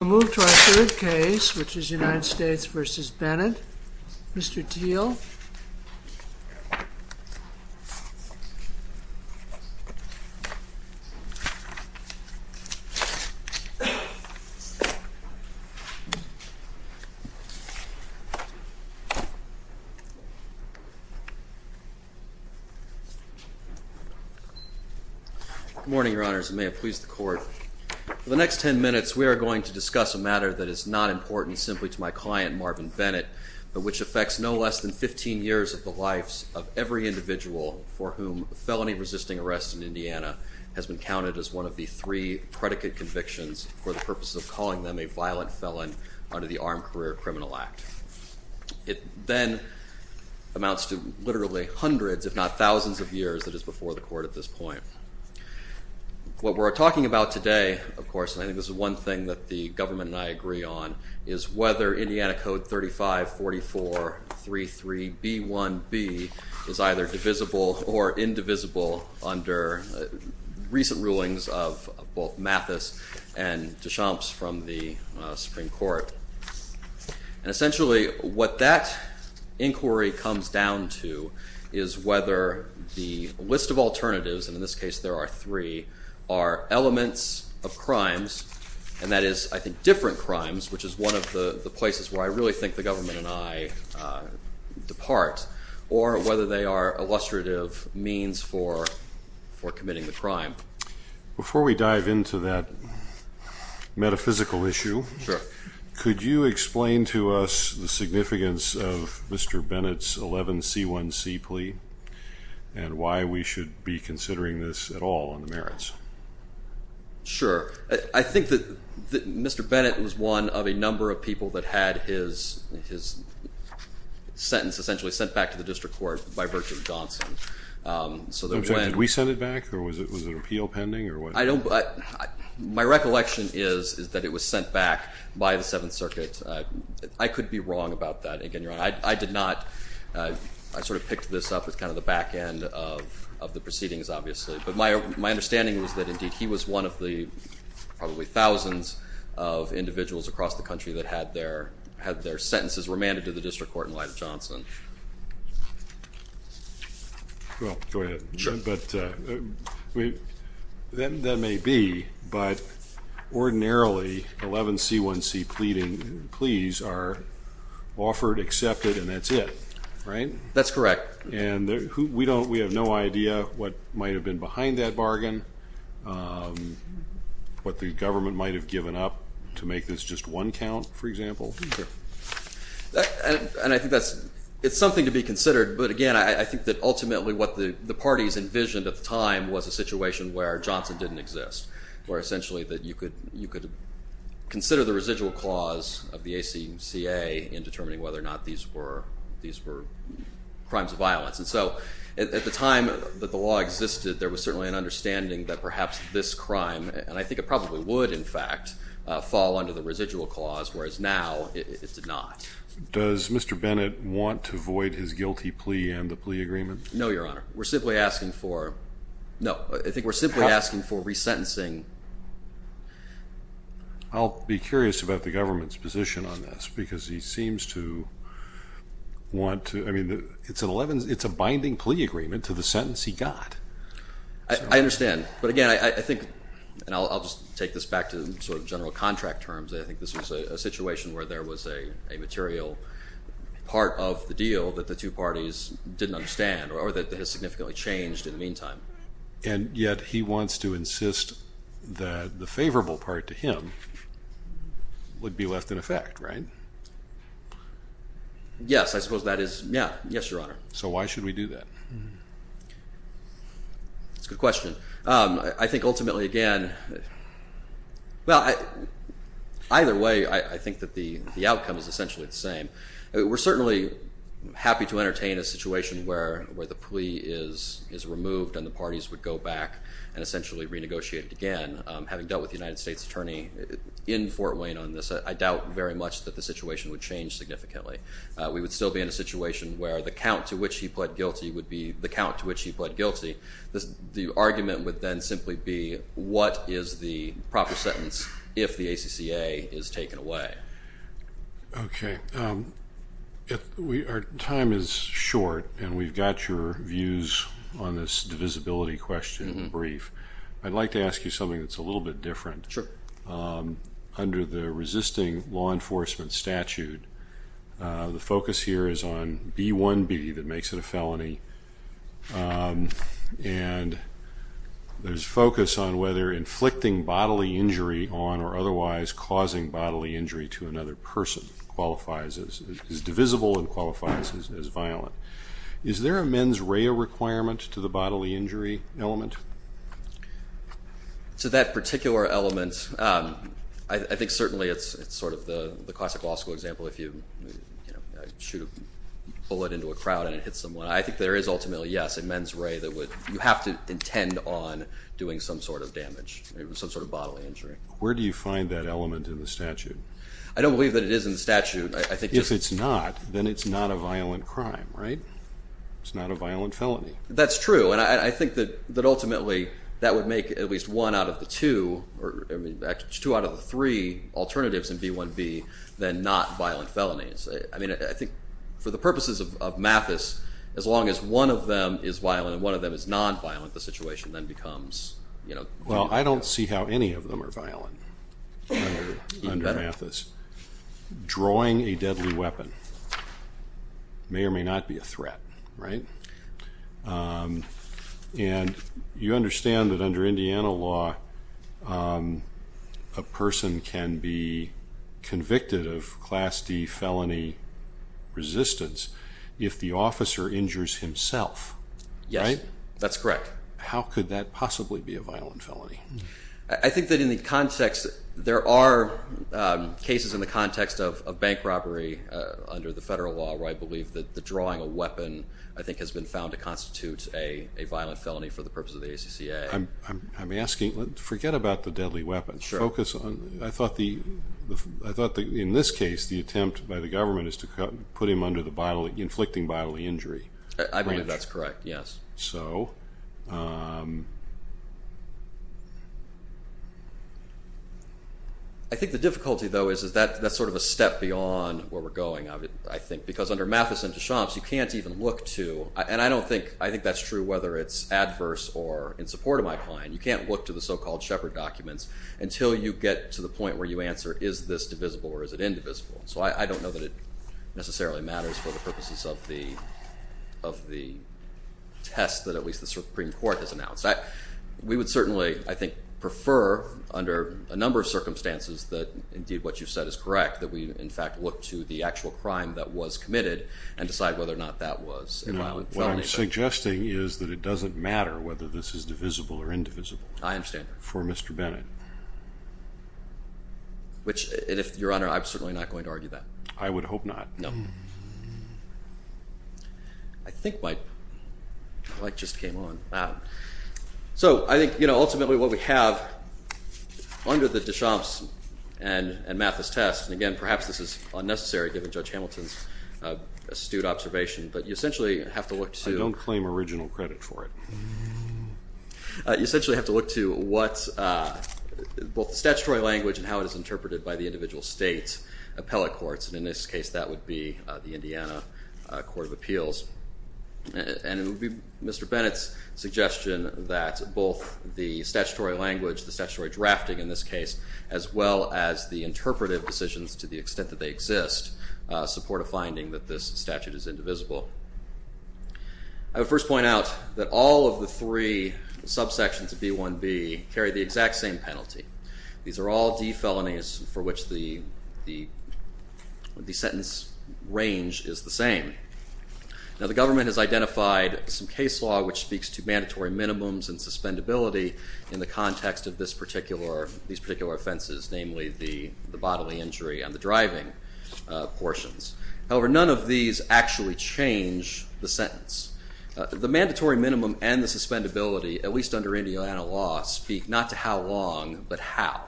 We'll move to our third case, which is United States v. Bennett. Mr. Thiel. Good morning, Your Honors, and may it please the Court. For the next ten minutes, we are going to discuss a matter that is not important simply to my client, Marvin Bennett, but which affects no less than 15 years of the lives of every individual for whom felony resisting arrest in Indiana has been counted as one of the three predicate convictions for the purpose of calling them a violent felon under the Armed Career Criminal Act. It then amounts to literally hundreds, if not thousands, of years that is before the Court at this point. What we're talking about today, of course, and I think this is one thing that the government and I agree on, is whether Indiana Code 354433B1b is either divisible or indivisible under recent rulings of both Mathis and DeChamps from the Supreme Court. And essentially, what that inquiry comes down to is whether the list of alternatives, and in this case there are three, are elements of crimes, and that is, I think, different crimes, which is one of the places where I really think the government and I depart, or whether they are illustrative means for committing the crime. Before we dive into that metaphysical issue, could you explain to us the significance of Mr. Bennett's 11C1C plea and why we should be considering this at all on the merits? Sure. I think that Mr. Bennett was one of a number of people that had his sentence essentially sent back to the District Court by virtue of Johnson. So did we send it back or was it appeal pending? My recollection is that it was sent back by the Seventh Circuit. I could be wrong about that. I did not. I sort of picked this up as kind of the back end of the proceedings, obviously. But my understanding was that indeed he was one of the probably thousands of individuals across the country that had their sentences remanded to the District Court in light of Johnson. Well, go ahead. Sure. That may be, but ordinarily 11C1C pleading pleas are offered, accepted, and that's it, right? That's correct. And we have no idea what might have been behind that bargain, what the government might have given up to make this just one count, for example. And I think it's something to be considered, but again, I think that ultimately what the parties envisioned at the time was a situation where Johnson didn't exist, where essentially you could consider the residual clause of the ACCA in determining whether or not these were crimes of violence. And so at the time that the law existed, there was certainly an understanding that perhaps this crime, and I think it probably would in fact, fall under the residual clause, whereas now it did not. Does Mr. Bennett want to void his guilty plea and the plea agreement? No, Your Honor. We're simply asking for, no, I think we're simply asking for resentencing. I'll be curious about the government's position on this, because he seems to want to, I mean, it's an 11, it's a binding plea agreement to the sentence he got. I understand, but again, I think, and I'll just take this back to sort of general contract terms, I think this was a situation where there was a material part of the deal that the two parties didn't understand, or that has significantly changed in the meantime. And yet he wants to insist that the favorable part to him would be left in effect, right? Yes, I suppose that is, yeah, yes, Your Honor. So why should we do that? That's a good question. I think ultimately, again, well, either way, I think that the outcome is essentially the same. We're certainly happy to entertain a situation where the plea is removed and the parties would go back and essentially renegotiate it again. Having dealt with the United States Attorney in Fort Wayne on this, I doubt very much that the situation would change significantly. We would still be in a situation where the count to which he pled guilty would be the count to which he pled guilty. The argument would then simply be what is the views on this divisibility question in brief. I'd like to ask you something that's a little bit different. Sure. Under the resisting law enforcement statute, the focus here is on B1B, that makes it a felony, and there's focus on whether inflicting bodily injury on or otherwise causing bodily injury to another person qualifies as divisible and qualifies as violent. Is there a mens rea requirement to the bodily injury element? To that particular element, I think certainly it's sort of the classic law school example. If you shoot a bullet into a crowd and it hits someone, I think there is ultimately, yes, a mens rea that would, you have to intend on doing some sort of damage, some sort of bodily injury. Where do you find that element in the statute? I don't believe that it is in the statute. If it's not, then it's not a violent crime, right? It's not a violent felony. That's true, and I think that ultimately, that would make at least one out of the two, or two out of the three alternatives in B1B, then not violent felonies. I mean, I think for the purposes of Mathis, as long as one of them is violent and one of them is non-violent, the situation then Well, I don't see how any of them are violent under Mathis. Drawing a deadly weapon may or may not be a threat, right? And you understand that under Indiana law, a person can be convicted of Class D felony resistance if the officer injures himself, right? Yes, that's correct. How could that possibly be a violent felony? I think that in the context, there are cases in the context of bank robbery under the federal law where I believe that the drawing a weapon, I think, has been found to constitute a violent felony for the purpose of the ACCA. I'm asking, forget about the deadly weapons. Focus on, I thought the, I thought that in this case, the attempt by the government is to put him under the bodily, inflicting bodily injury. I believe that's correct, yes. So, I think the difficulty, though, is that that's sort of a step beyond where we're going, I think, because under Mathis and Deschamps, you can't even look to, and I don't think, I think that's true whether it's adverse or in support of my client. You can't look to the so-called Shepard documents until you get to the point where you answer, is this divisible or is it indivisible? So, I don't know that it necessarily matters for the purposes of the of the test that at least the Supreme Court has announced. We would certainly, I think, prefer under a number of circumstances that indeed what you've said is correct, that we in fact look to the actual crime that was committed and decide whether or not that was a violent felony. What I'm suggesting is that it doesn't matter whether this is divisible or indivisible. I understand. For Mr. Bennett. Which, your Honor, I'm certainly not going to argue that. I would hope not. No. I think my mic just came on. So, I think, you know, ultimately what we have under the Deschamps and Mathis test, and again, perhaps this is unnecessary given Judge Hamilton's astute observation, but you essentially have to look to... I don't claim original credit for it. You essentially have to look to what, both statutory language and how it is interpreted by the individual states, appellate courts, and in this case that would be the Indiana Court of Appeals. And it would be Mr. Bennett's suggestion that both the statutory language, the statutory drafting in this case, as well as the interpretive decisions to the extent that they First point out that all of the three subsections of B1B carry the exact same penalty. These are all D felonies for which the sentence range is the same. Now the government has identified some case law which speaks to mandatory minimums and suspendability in the context of this particular, these particular offenses, namely the bodily injury and the driving portions. However, none of these actually change the sentence. The mandatory minimum and the suspendability, at least under Indiana law, speak not to how long, but how.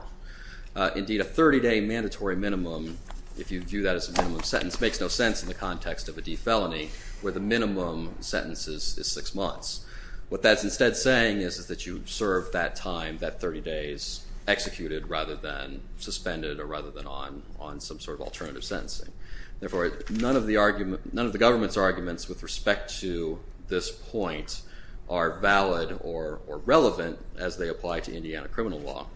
Indeed, a 30-day mandatory minimum, if you view that as a minimum sentence, makes no sense in the context of a D felony where the minimum sentence is six months. What that's instead saying is that you serve that time, that 30 days, executed rather than suspended or rather than on some sort of alternative sentencing. Therefore, none of the government's arguments with respect to this point are valid or relevant as they apply to Indiana criminal law.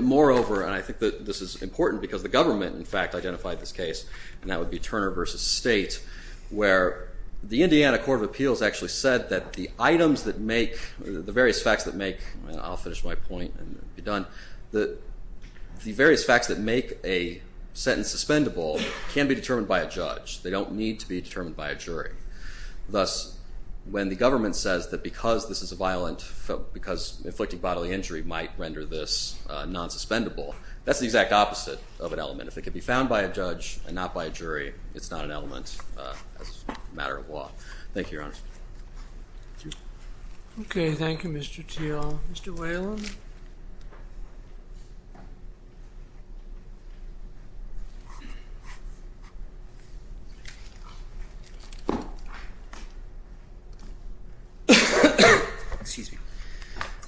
Moreover, and I think that this is important because the government in fact identified this case, and that would be Turner v. State, where the Indiana Court of Appeals actually said that the items that make, the various facts that make, I'll finish my point and be done, that the various facts are determined by a judge. They don't need to be determined by a jury. Thus, when the government says that because this is a violent, because inflicting bodily injury might render this non-suspendable, that's the exact opposite of an element. If it can be found by a judge and not by a jury, it's not an element as a matter of law. Thank you, Your Honor. Okay, thank you, Mr. Thiel. Mr. Whalen?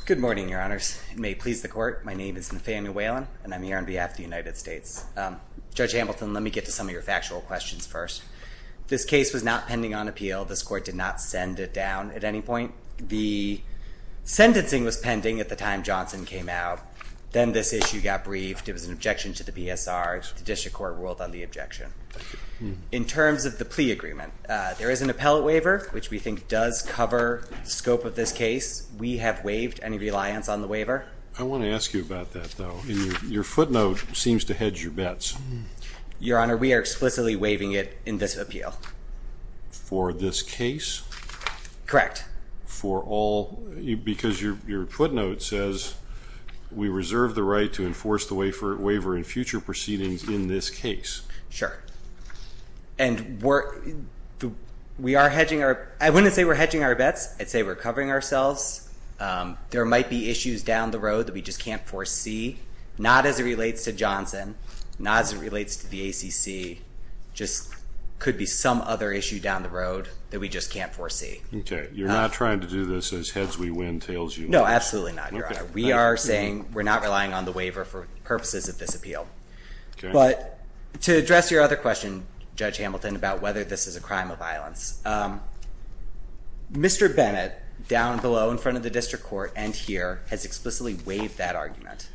Good morning, Your Honors. It may please the Court. My name is Nathaniel Whalen, and I'm here on behalf of the United States. Judge Hamilton, let me get to some of your factual questions first. This case was not pending on appeal. This Court did not send it down at any point. The sentencing was pending at the time Johnson came out. Then this issue got briefed. It was an objection to the PSR. The district court ruled on the objection. In terms of the plea agreement, there is an appellate waiver, which we think does cover the scope of this case. We have waived any reliance on the waiver. I want to ask you about that, though. Your footnote seems to hedge your bets. Your Honor, we are explicitly waiving it in this appeal. For this case? Correct. Because your footnote says, we reserve the right to enforce the waiver in future proceedings in this case. Sure. I wouldn't say we're hedging our bets. I'd say we're covering ourselves. There might be issues down the road that we just can't foresee, not as it relates to Johnson, not as it relates to the ACC. Just could be some other issue down the road that we just can't foresee. Okay, you're not trying to do this as an appeal? Absolutely not, Your Honor. We are saying we're not relying on the waiver for purposes of this appeal. But to address your other question, Judge Hamilton, about whether this is a crime of violence, Mr. Bennett, down below in front of the district court and here, has explicitly waived that argument.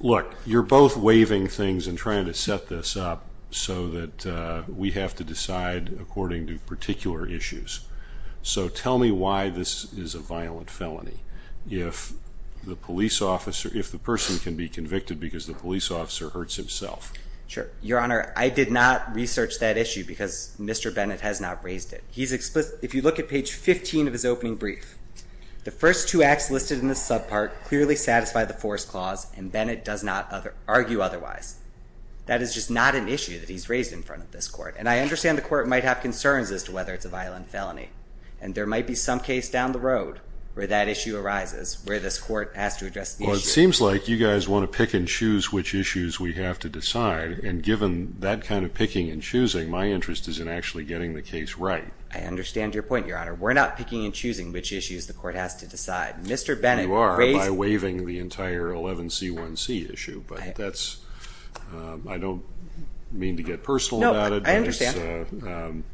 Look, you're both waiving things and trying to set this up so that we have to if the person can be convicted because the police officer hurts himself. Sure. Your Honor, I did not research that issue because Mr. Bennett has not raised it. If you look at page 15 of his opening brief, the first two acts listed in this subpart clearly satisfy the force clause and Bennett does not argue otherwise. That is just not an issue that he's raised in front of this court. And I understand the where that issue arises, where this court has to address the issue. Well, it seems like you guys want to pick and choose which issues we have to decide. And given that kind of picking and choosing, my interest is in actually getting the case right. I understand your point, Your Honor. We're not picking and choosing which issues the court has to decide. Mr. Bennett raised... You are, by waiving the entire 11C1C issue. But that's, I don't mean to get personal about it. No, I understand.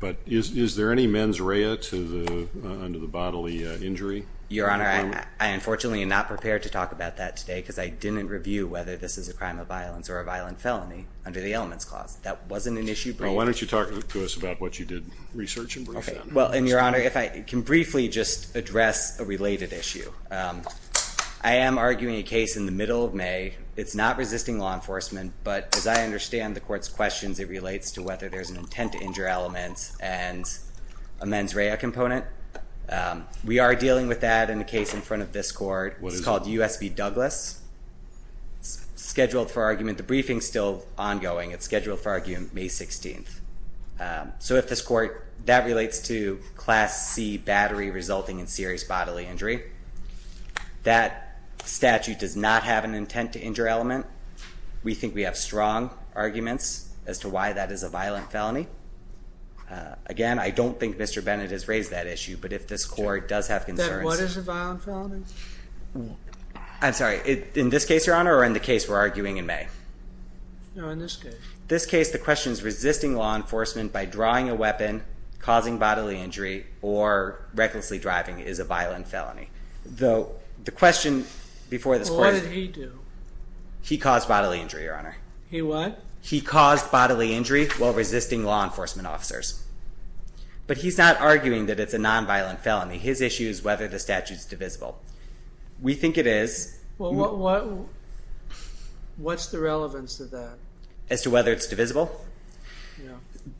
But is there any mens rea under the bodily injury? Your Honor, I unfortunately am not prepared to talk about that today because I didn't review whether this is a crime of violence or a violent felony under the elements clause. That wasn't an issue. Well, why don't you talk to us about what you did research and brief then. Well, and Your Honor, if I can briefly just address a I understand the court's questions. It relates to whether there's an intent to injure element and a mens rea component. We are dealing with that in the case in front of this court. It's called USB Douglas. It's scheduled for argument. The briefing is still ongoing. It's scheduled for argument May 16th. So if this court, that relates to class C battery resulting in serious bodily injury. That statute does not have an intent to injure element. We think we have strong arguments as to why that is a violent felony. Again, I don't think Mr. Bennett has raised that issue, but if this court does have concerns. What is a violent felony? I'm sorry, in this case, Your Honor, or in the case we're arguing in May? No, in this case. This case, the question is resisting law enforcement by drawing a weapon, causing bodily injury or recklessly driving is a violent felony. Though the He caused bodily injury, Your Honor. He what? He caused bodily injury while resisting law enforcement officers. But he's not arguing that it's a nonviolent felony. His issue is whether the statute is divisible. We think it is. What's the relevance of that? As to whether it's divisible?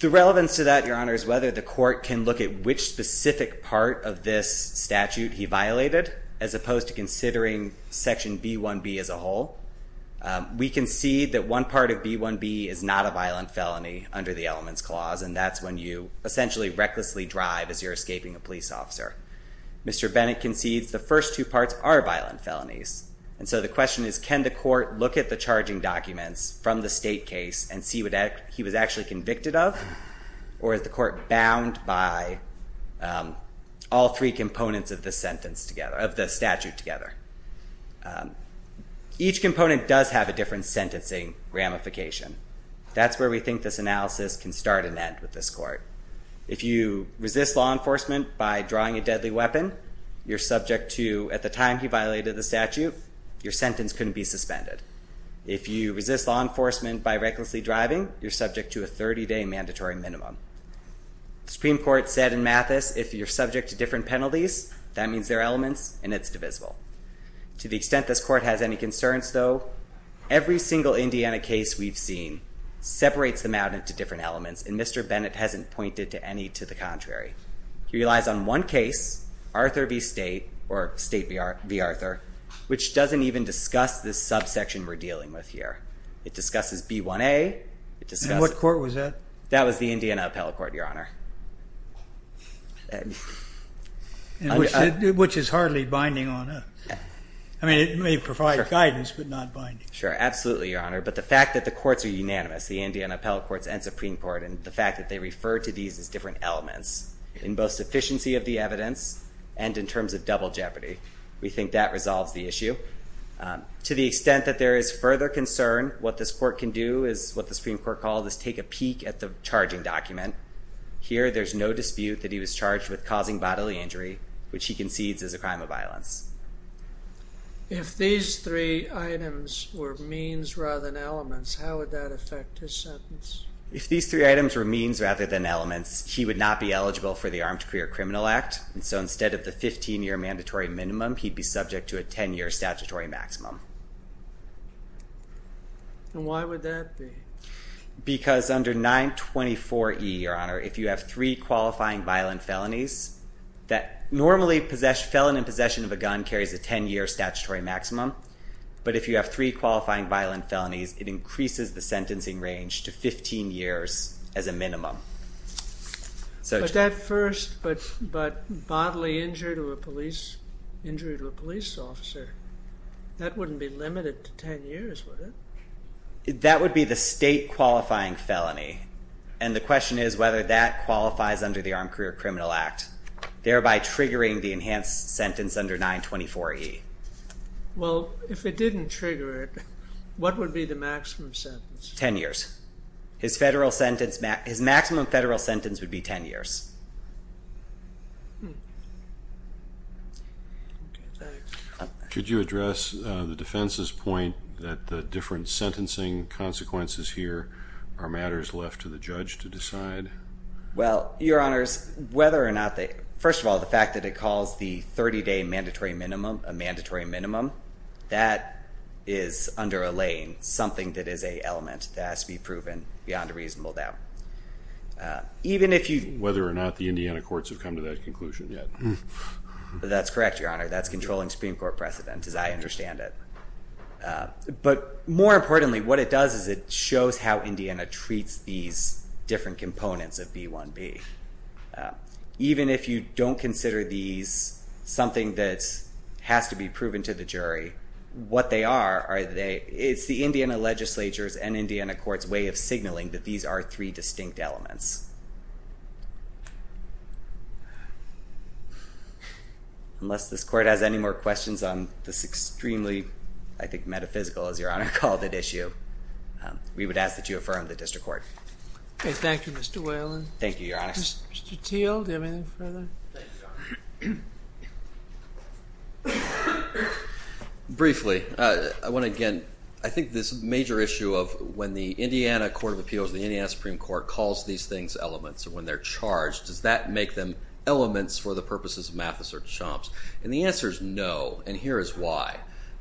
The relevance to that, We concede that one part of B1B is not a violent felony under the elements clause, and that's when you essentially recklessly drive as you're escaping a police officer. Mr. Bennett concedes the first two parts are violent felonies. And so the question is, can the court look at the charging documents from the state together? Each component does have a different sentencing ramification. That's where we think this analysis can start and end with this court. If you resist law enforcement by drawing a deadly weapon, you're subject to, at the time he violated the statute, your sentence couldn't be suspended. If you resist law enforcement by recklessly driving, you're subject to a 30-day mandatory minimum. The Supreme Court said in Mathis, if you're subject to different To the extent this court has any concerns, though, every single Indiana case we've seen separates them out into different elements, and Mr. Bennett hasn't pointed to any to the contrary. He relies on one case, Arthur v. State, or State v. Arthur, which doesn't even discuss this subsection we're dealing with here. It discusses B1A, it is hardly binding on us. I mean, it may provide guidance, but not binding. Sure, absolutely, Your Honor. But the fact that the courts are unanimous, the Indiana Appellate Courts and Supreme Court, and the fact that they refer to these as different elements in both sufficiency of the evidence and in terms of double jeopardy, we think that resolves the issue. To the extent that there is further concern, what this court can do is what the Supreme Court called is take a dispute that he was charged with causing bodily injury, which he concedes is a crime of violence. If these three items were means rather than elements, how would that affect his sentence? If these three items were means rather than elements, he would not be eligible for the Armed Career Criminal Act, and so instead of the 15-year mandatory minimum, he'd be subject to a 10-year statutory maximum. And why would that be? Because under 924E, Your Honor, if you have three qualifying violent felonies, normally felon in possession of a gun carries a 10-year statutory maximum, but if you have three qualifying violent felonies, it increases the sentencing range to 15 years as a minimum. But that first bodily injury to a police officer, that wouldn't be limited to 10 years, would it? That would be the state qualifying felony, and the question is whether that qualifies under the Armed Career Criminal Act, thereby triggering the enhanced sentence under 924E. Well, if it didn't trigger it, what would be the maximum sentence? 10 years. His federal sentence, his maximum federal sentence would be 10 years. Could you address the defense's point that the different sentencing consequences here are matters left to the judge to decide? Well, Your Honors, whether or not they, first of all, the fact that it calls the 30-day mandatory minimum a mandatory minimum, that is under a lane, something that is an element that has to be proven beyond a reasonable doubt. Whether or not the Indiana courts have come to that conclusion yet. That's correct, Your Honor. That's controlling Supreme Court precedent, as I understand it. But more importantly, what it does is it shows how Indiana treats these different components of B1B. Even if you don't consider these something that has to be proven to the jury, what they are, it's the Indiana legislature's and Indiana court's way of signaling that these are three distinct elements. Unless this court has any more questions on this extremely, I think, metaphysical, as Your Honor called it, issue, we would ask that you affirm the district court. Thank you, Mr. Whalen. Thank you, Your Honors. Mr. Thiel, do you have anything further? Briefly, I want to, again, I think this major issue of when the Indiana Court of Appeals, the Indiana Supreme Court, calls these things elements or when they're charged, does that make them elements for the purposes of Mathis or Deschamps? And the answer is no, and here is why.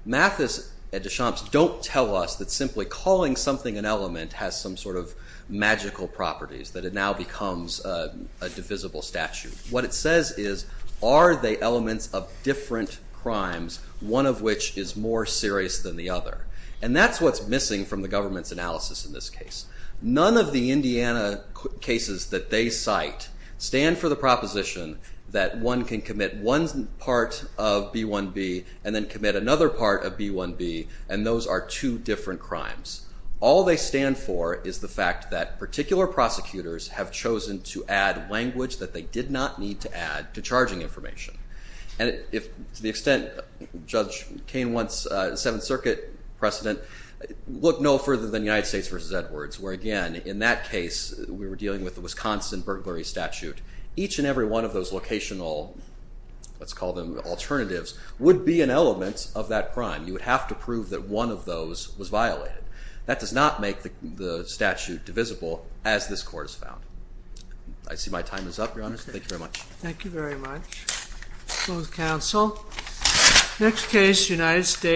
Mathis and Deschamps don't tell us that simply calling something an element has some sort of magical properties, that it now becomes a divisible statute. What it says is, are they elements of different crimes, one of which is more serious than the other? And that's what's missing from the government's analysis in this case. None of the Indiana cases that they cite stand for the proposition that one can commit one part of B1B and then commit another part of B1B, and those are two different crimes. All they stand for is the fact that particular prosecutors have chosen to add language that they did not need to add to charging information. And to the extent Judge Kain wants Seventh Circuit precedent, look no further than United States v. Edwards, where, again, in that case, we were dealing with the Wisconsin burglary statute. Each and every one of those locational, let's call them alternatives, would be an element of that crime. You would have to prove that one of those was violated. That does not make the statute divisible, as this Court has found. I see my time is up, Your Honor, so thank you very much. Thank you very much. Closed counsel. Next case, United States v. Edwards.